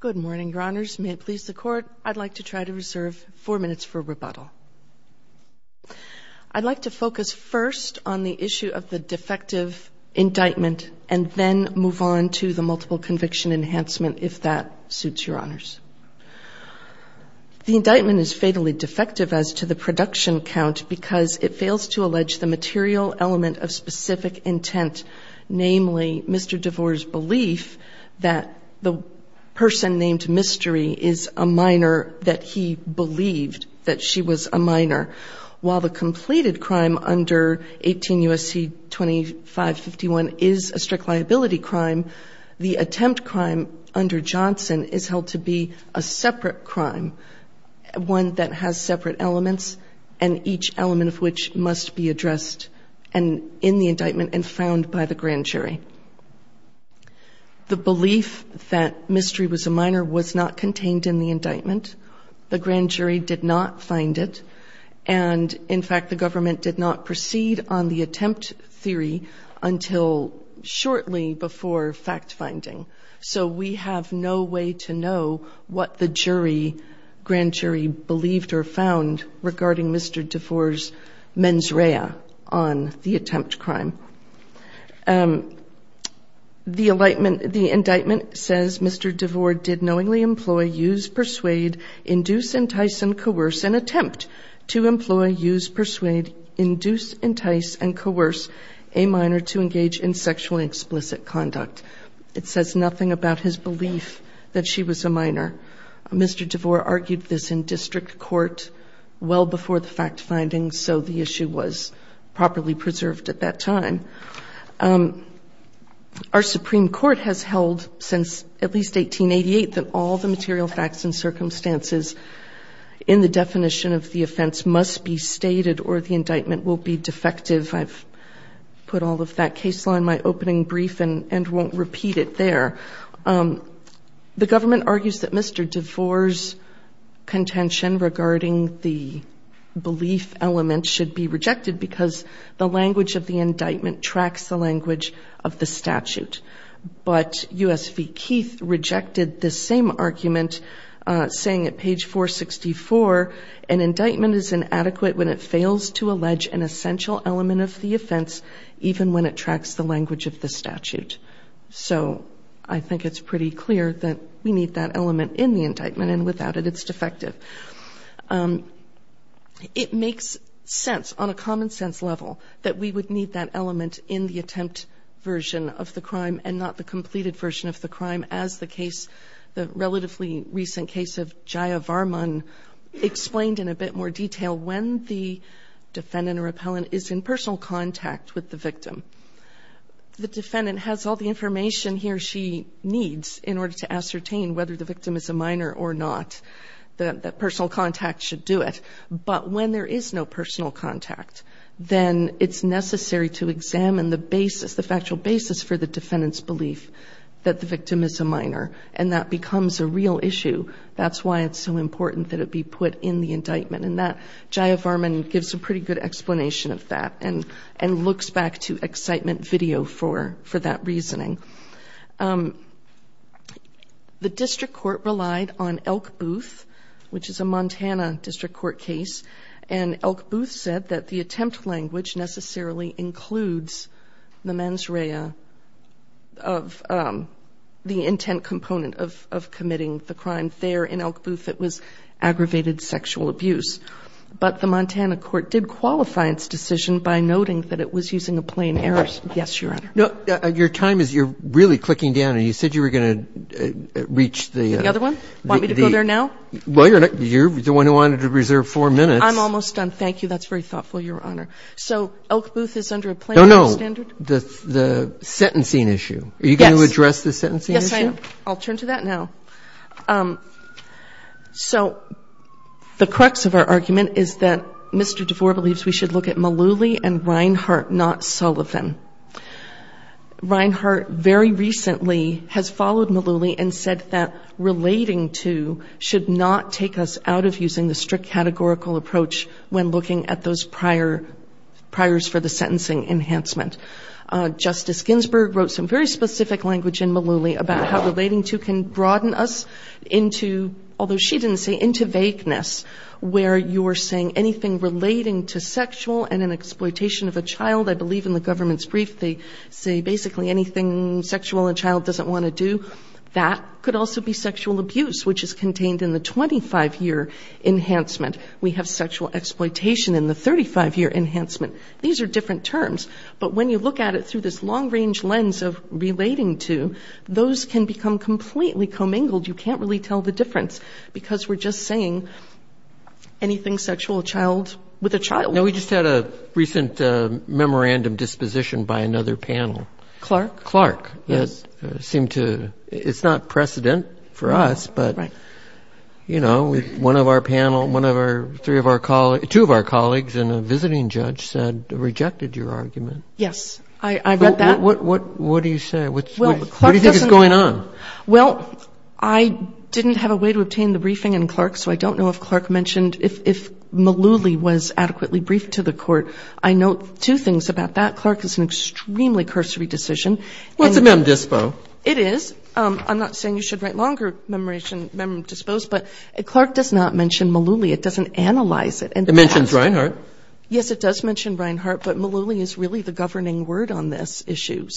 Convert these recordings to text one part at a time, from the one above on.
Good morning, Your Honors. May it please the Court, I'd like to try to reserve four minutes for rebuttal. I'd like to focus first on the issue of the defective indictment and then move on to the multiple conviction enhancement, if that suits Your Honors. The indictment is fatally defective as to the production count because it fails to allege the material element of specific intent, namely Mr. Devore's belief that the person named Mystery is a minor, that he believed that she was a minor. While the completed crime under 18 U.S.C. 2551 is a strict liability crime, the attempt crime under Johnson is held to be a separate crime, one that has separate elements and each element of which must be addressed in the indictment and found by the grand jury. The belief that Mystery was a minor was not contained in the indictment. The grand jury did not find it and, in fact, the government did not proceed on the attempt theory until shortly before fact-finding. So we have no way to know what the grand jury believed or found regarding Mr. Devore's mens rea on the attempt crime. The indictment says Mr. Devore did knowingly employ, use, persuade, induce, entice, and coerce, and attempt to employ, use, persuade, induce, entice, and coerce a minor to engage in sexually explicit conduct. It says nothing about his belief that she was a minor. Mr. Devore argued this in district court well before the fact-finding, so the issue was properly preserved at that time. Our Supreme Court has held since at least 1888 that all the material facts and circumstances in the definition of the offense must be stated or the indictment will be defective. I've put all of that case law in my opening brief and won't repeat it there. The government argues that Mr. Devore's contention regarding the belief element should be rejected because the language of the indictment tracks the language of the statute. But U.S. v. Keith rejected the same argument, saying at page 464, an indictment is inadequate when it fails to allege an essential element of the offense, even when it tracks the language of the statute. So I think it's pretty clear that we need that element in the indictment, and without it, it's defective. It makes sense on a common-sense level that we would need that element in the attempt version of the crime and not the completed version of the crime, as the case, the relatively recent case of Jaya Varman, explained in a bit more detail when the defendant or appellant is in personal contact with the victim. The defendant has all the information he or she needs in order to ascertain whether the victim is a minor or not. The personal contact should do it. But when there is no personal contact, then it's necessary to examine the basis, the factual basis for the defendant's belief that the victim is a minor, and that becomes a real issue. That's why it's so important that it be put in the indictment, and Jaya Varman gives a pretty good explanation of that and looks back to excitement video for that reasoning. The district court relied on Elk Booth, which is a Montana district court case, and Elk Booth said that the attempt language necessarily includes the mens rea of the intent component of committing the crime there in Elk Booth that was aggravated sexual abuse. But the Montana court did qualify its decision by noting that it was using a plain error. Yes, Your Honor. Your time is, you're really clicking down, and you said you were going to reach the other one. Want me to go there now? Well, you're the one who wanted to reserve four minutes. I'm almost done. Thank you. That's very thoughtful, Your Honor. So Elk Booth is under a plain error standard? No, no. The sentencing issue. Yes. Are you going to address the sentencing issue? Yes, I am. I'll turn to that now. So the crux of our argument is that Mr. DeVore believes we should look at Mullooly and Reinhart, not Sullivan. Reinhart very recently has followed Mullooly and said that relating to should not take us out of using the strict categorical approach when looking at those priors for the sentencing enhancement. Justice Ginsburg wrote some very specific language in Mullooly about how relating to can broaden us into, although she didn't say, into vagueness, where you're saying anything relating to sexual and an exploitation of a child, I believe in the government's brief they say basically anything sexual a child doesn't want to do, that could also be sexual abuse, which is contained in the 25-year enhancement. We have sexual exploitation in the 35-year enhancement. These are different terms. But when you look at it through this long-range lens of relating to, those can become completely commingled. You can't really tell the difference because we're just saying anything sexual a child with a child. Now, we just had a recent memorandum disposition by another panel. Clark. Clark. Yes. It seemed to be, it's not precedent for us, but, you know, one of our panel, one of our, two of our colleagues and a visiting judge said, rejected your argument. Yes. I read that. What do you say? What do you think is going on? Well, I didn't have a way to obtain the briefing in Clark, so I don't know if Clark mentioned if Malouly was adequately briefed to the court. I note two things about that. Clark is an extremely cursory decision. Well, it's a mem dispo. It is. I'm not saying you should write longer memorandum dispos, but Clark does not mention Malouly. It doesn't analyze it. It mentions Reinhart. Yes, it does mention Reinhart, but Malouly is really the governing word on this issue.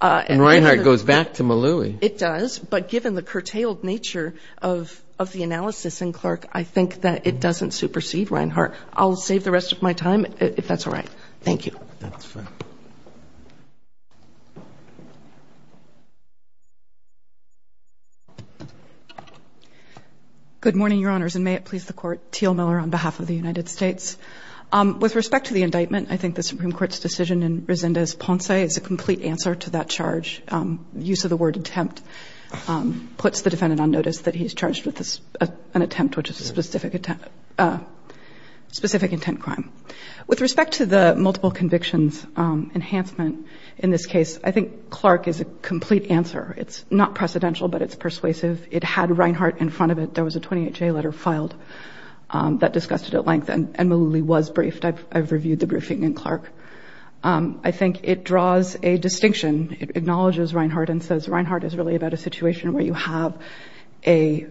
And Reinhart goes back to Malouy. It does. But given the curtailed nature of the analysis in Clark, I think that it doesn't supersede Reinhart. I'll save the rest of my time, if that's all right. Thank you. That's fine. Good morning, Your Honors, and may it please the Court. Teal Miller on behalf of the United States. With respect to the indictment, I think the Supreme Court's decision in Resendez-Ponce is a complete answer to that charge. Use of the word attempt puts the defendant on notice that he's charged with an attempt, which is a specific intent crime. With respect to the multiple convictions enhancement in this case, I think Clark is a complete answer. It's not precedential, but it's persuasive. It had Reinhart in front of it. There was a 28-J letter filed that discussed it at length, and Malouly was briefed. I've reviewed the briefing in Clark. I think it draws a distinction. It acknowledges Reinhart and says Reinhart is really about a situation where you have a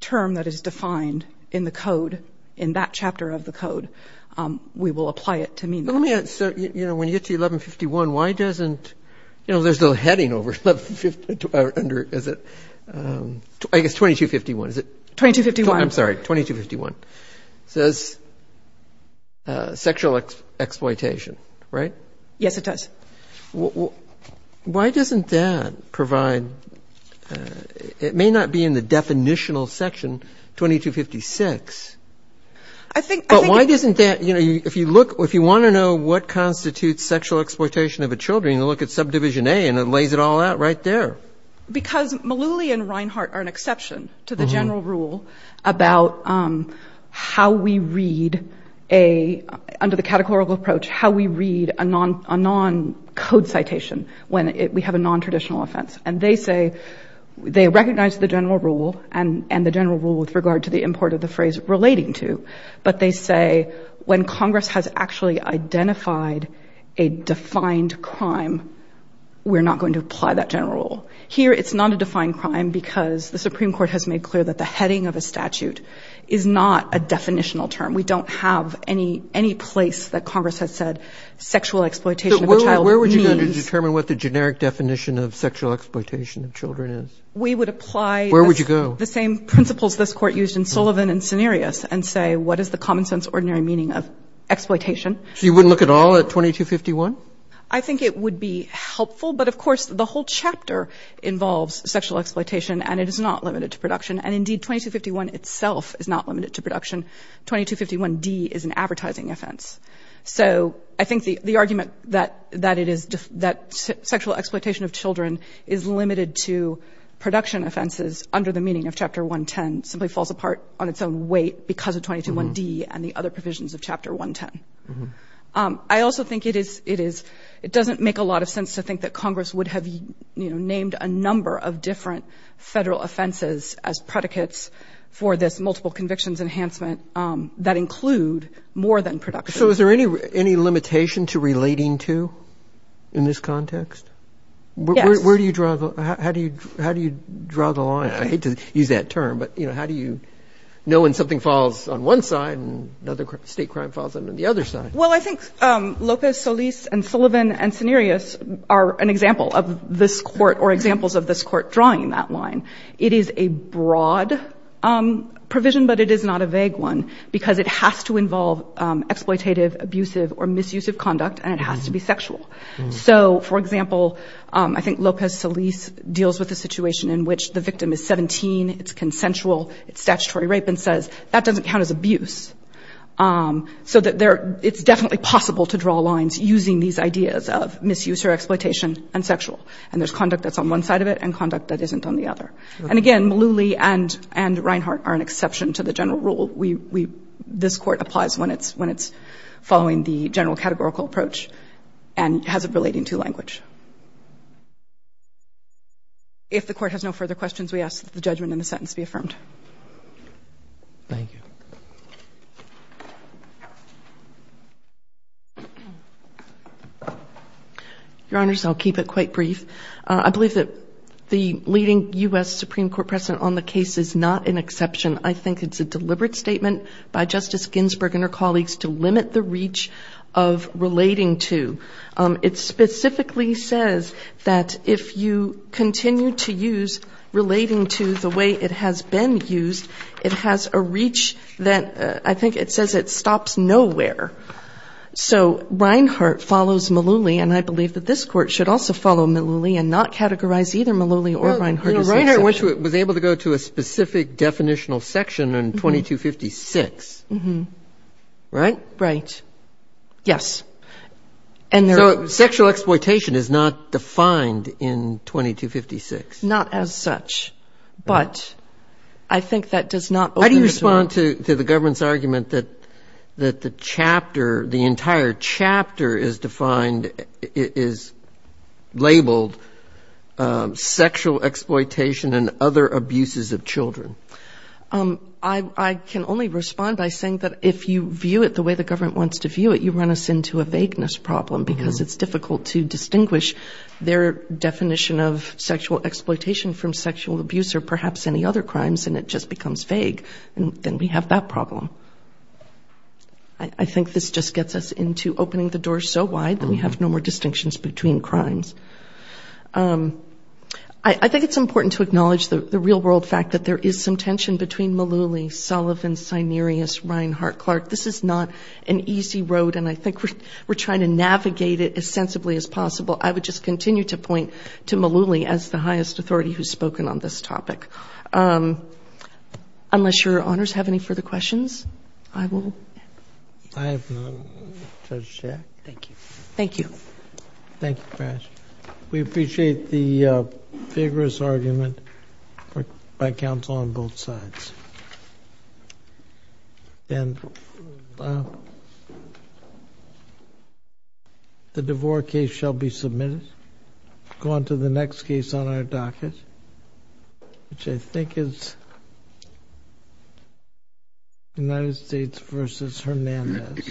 term that is defined in the code, in that chapter of the code. We will apply it to mean that. Let me ask. So, you know, when you get to 1151, why doesn't, you know, there's no heading under, is it, I guess, 2251, is it? 2251. I'm sorry, 2251. 2251 says sexual exploitation, right? Yes, it does. Why doesn't that provide, it may not be in the definitional section 2256, but why doesn't that, you know, if you want to know what constitutes sexual exploitation of a children, you look at subdivision A and it lays it all out right there. Because Malouly and Reinhart are an exception to the general rule about how we read a, under the categorical approach, how we read a non-code citation when we have a non-traditional offense. And they say, they recognize the general rule and the general rule with regard to the import of the phrase relating to, but they say when Congress has actually identified a defined crime, we're not going to apply that general rule. Here it's not a defined crime because the Supreme Court has made clear that the heading of a statute is not a definitional term. We don't have any place that Congress has said sexual exploitation of a child means. But where would you go to determine what the generic definition of sexual exploitation of children is? We would apply. Where would you go? The same principles this Court used in Sullivan and Cenarius and say what is the common sense ordinary meaning of exploitation. So you wouldn't look at all at 2251? I think it would be helpful, but of course the whole chapter involves sexual exploitation and it is not limited to production. And indeed 2251 itself is not limited to production. 2251d is an advertising offense. So I think the argument that it is, that sexual exploitation of children is limited to production offenses under the meaning of Chapter 110 simply falls apart on its own weight because of 2251d and the other provisions of Chapter 110. I also think it is, it doesn't make a lot of sense to think that Congress would have, you know, named a number of different Federal offenses as predicates for this multiple convictions enhancement that include more than production. So is there any limitation to relating to in this context? Yes. Where do you draw the, how do you draw the line? I hate to use that term, but, you know, how do you know when something falls on one side and another state crime falls on the other side? Well, I think Lopez, Solis and Sullivan and Cenarius are an example of this Court or examples of this Court drawing that line. It is a broad provision, but it is not a vague one because it has to involve exploitative, abusive or misuse of conduct and it has to be sexual. So, for example, I think Lopez, Solis deals with a situation in which the victim is 17, it's consensual, it's statutory rape and says that doesn't count as abuse. So it's definitely possible to draw lines using these ideas of misuse or exploitation and sexual and there's conduct that's on one side of it and conduct that isn't on the other. And, again, Malouly and Reinhart are an exception to the general rule. This Court applies when it's following the general categorical approach and has it relating to language. If the Court has no further questions, we ask that the judgment in the sentence be affirmed. Thank you. Your Honors, I'll keep it quite brief. I believe that the leading U.S. Supreme Court precedent on the case is not an exception. I think it's a deliberate statement by Justice Ginsburg and her colleagues to limit the reach of relating to. It specifically says that if you continue to use relating to the way it has been used, it has a reach that I think it says it stops nowhere. So Reinhart follows Malouly and I believe that this Court should also follow Malouly and not categorize either Malouly or Reinhart as an exception. Justice Ginsburg was able to go to a specific definitional section in 2256, right? Right. Yes. So sexual exploitation is not defined in 2256. Not as such, but I think that does not open it up. How do you respond to the government's argument that the chapter, the entire chapter is defined, is labeled sexual exploitation and other abuses of children? I can only respond by saying that if you view it the way the government wants to view it, you run us into a vagueness problem because it's difficult to distinguish their definition of sexual exploitation from sexual abuse or perhaps any other crimes, and it just becomes vague. Then we have that problem. I think this just gets us into opening the door so wide that we have no more distinctions between crimes. I think it's important to acknowledge the real-world fact that there is some tension between Malouly, Sullivan, Cinerius, Reinhart, Clark. This is not an easy road, and I think we're trying to navigate it as sensibly as possible. I would just continue to point to Malouly as the highest authority who's spoken on this topic. Unless your honors have any further questions, I will end. I have none. Judge Shack? Thank you. Thank you. Thank you, Farris. We appreciate the vigorous argument by counsel on both sides. The DeVore case shall be submitted. We'll go on to the next case on our docket, which I think is United States v. Hernandez.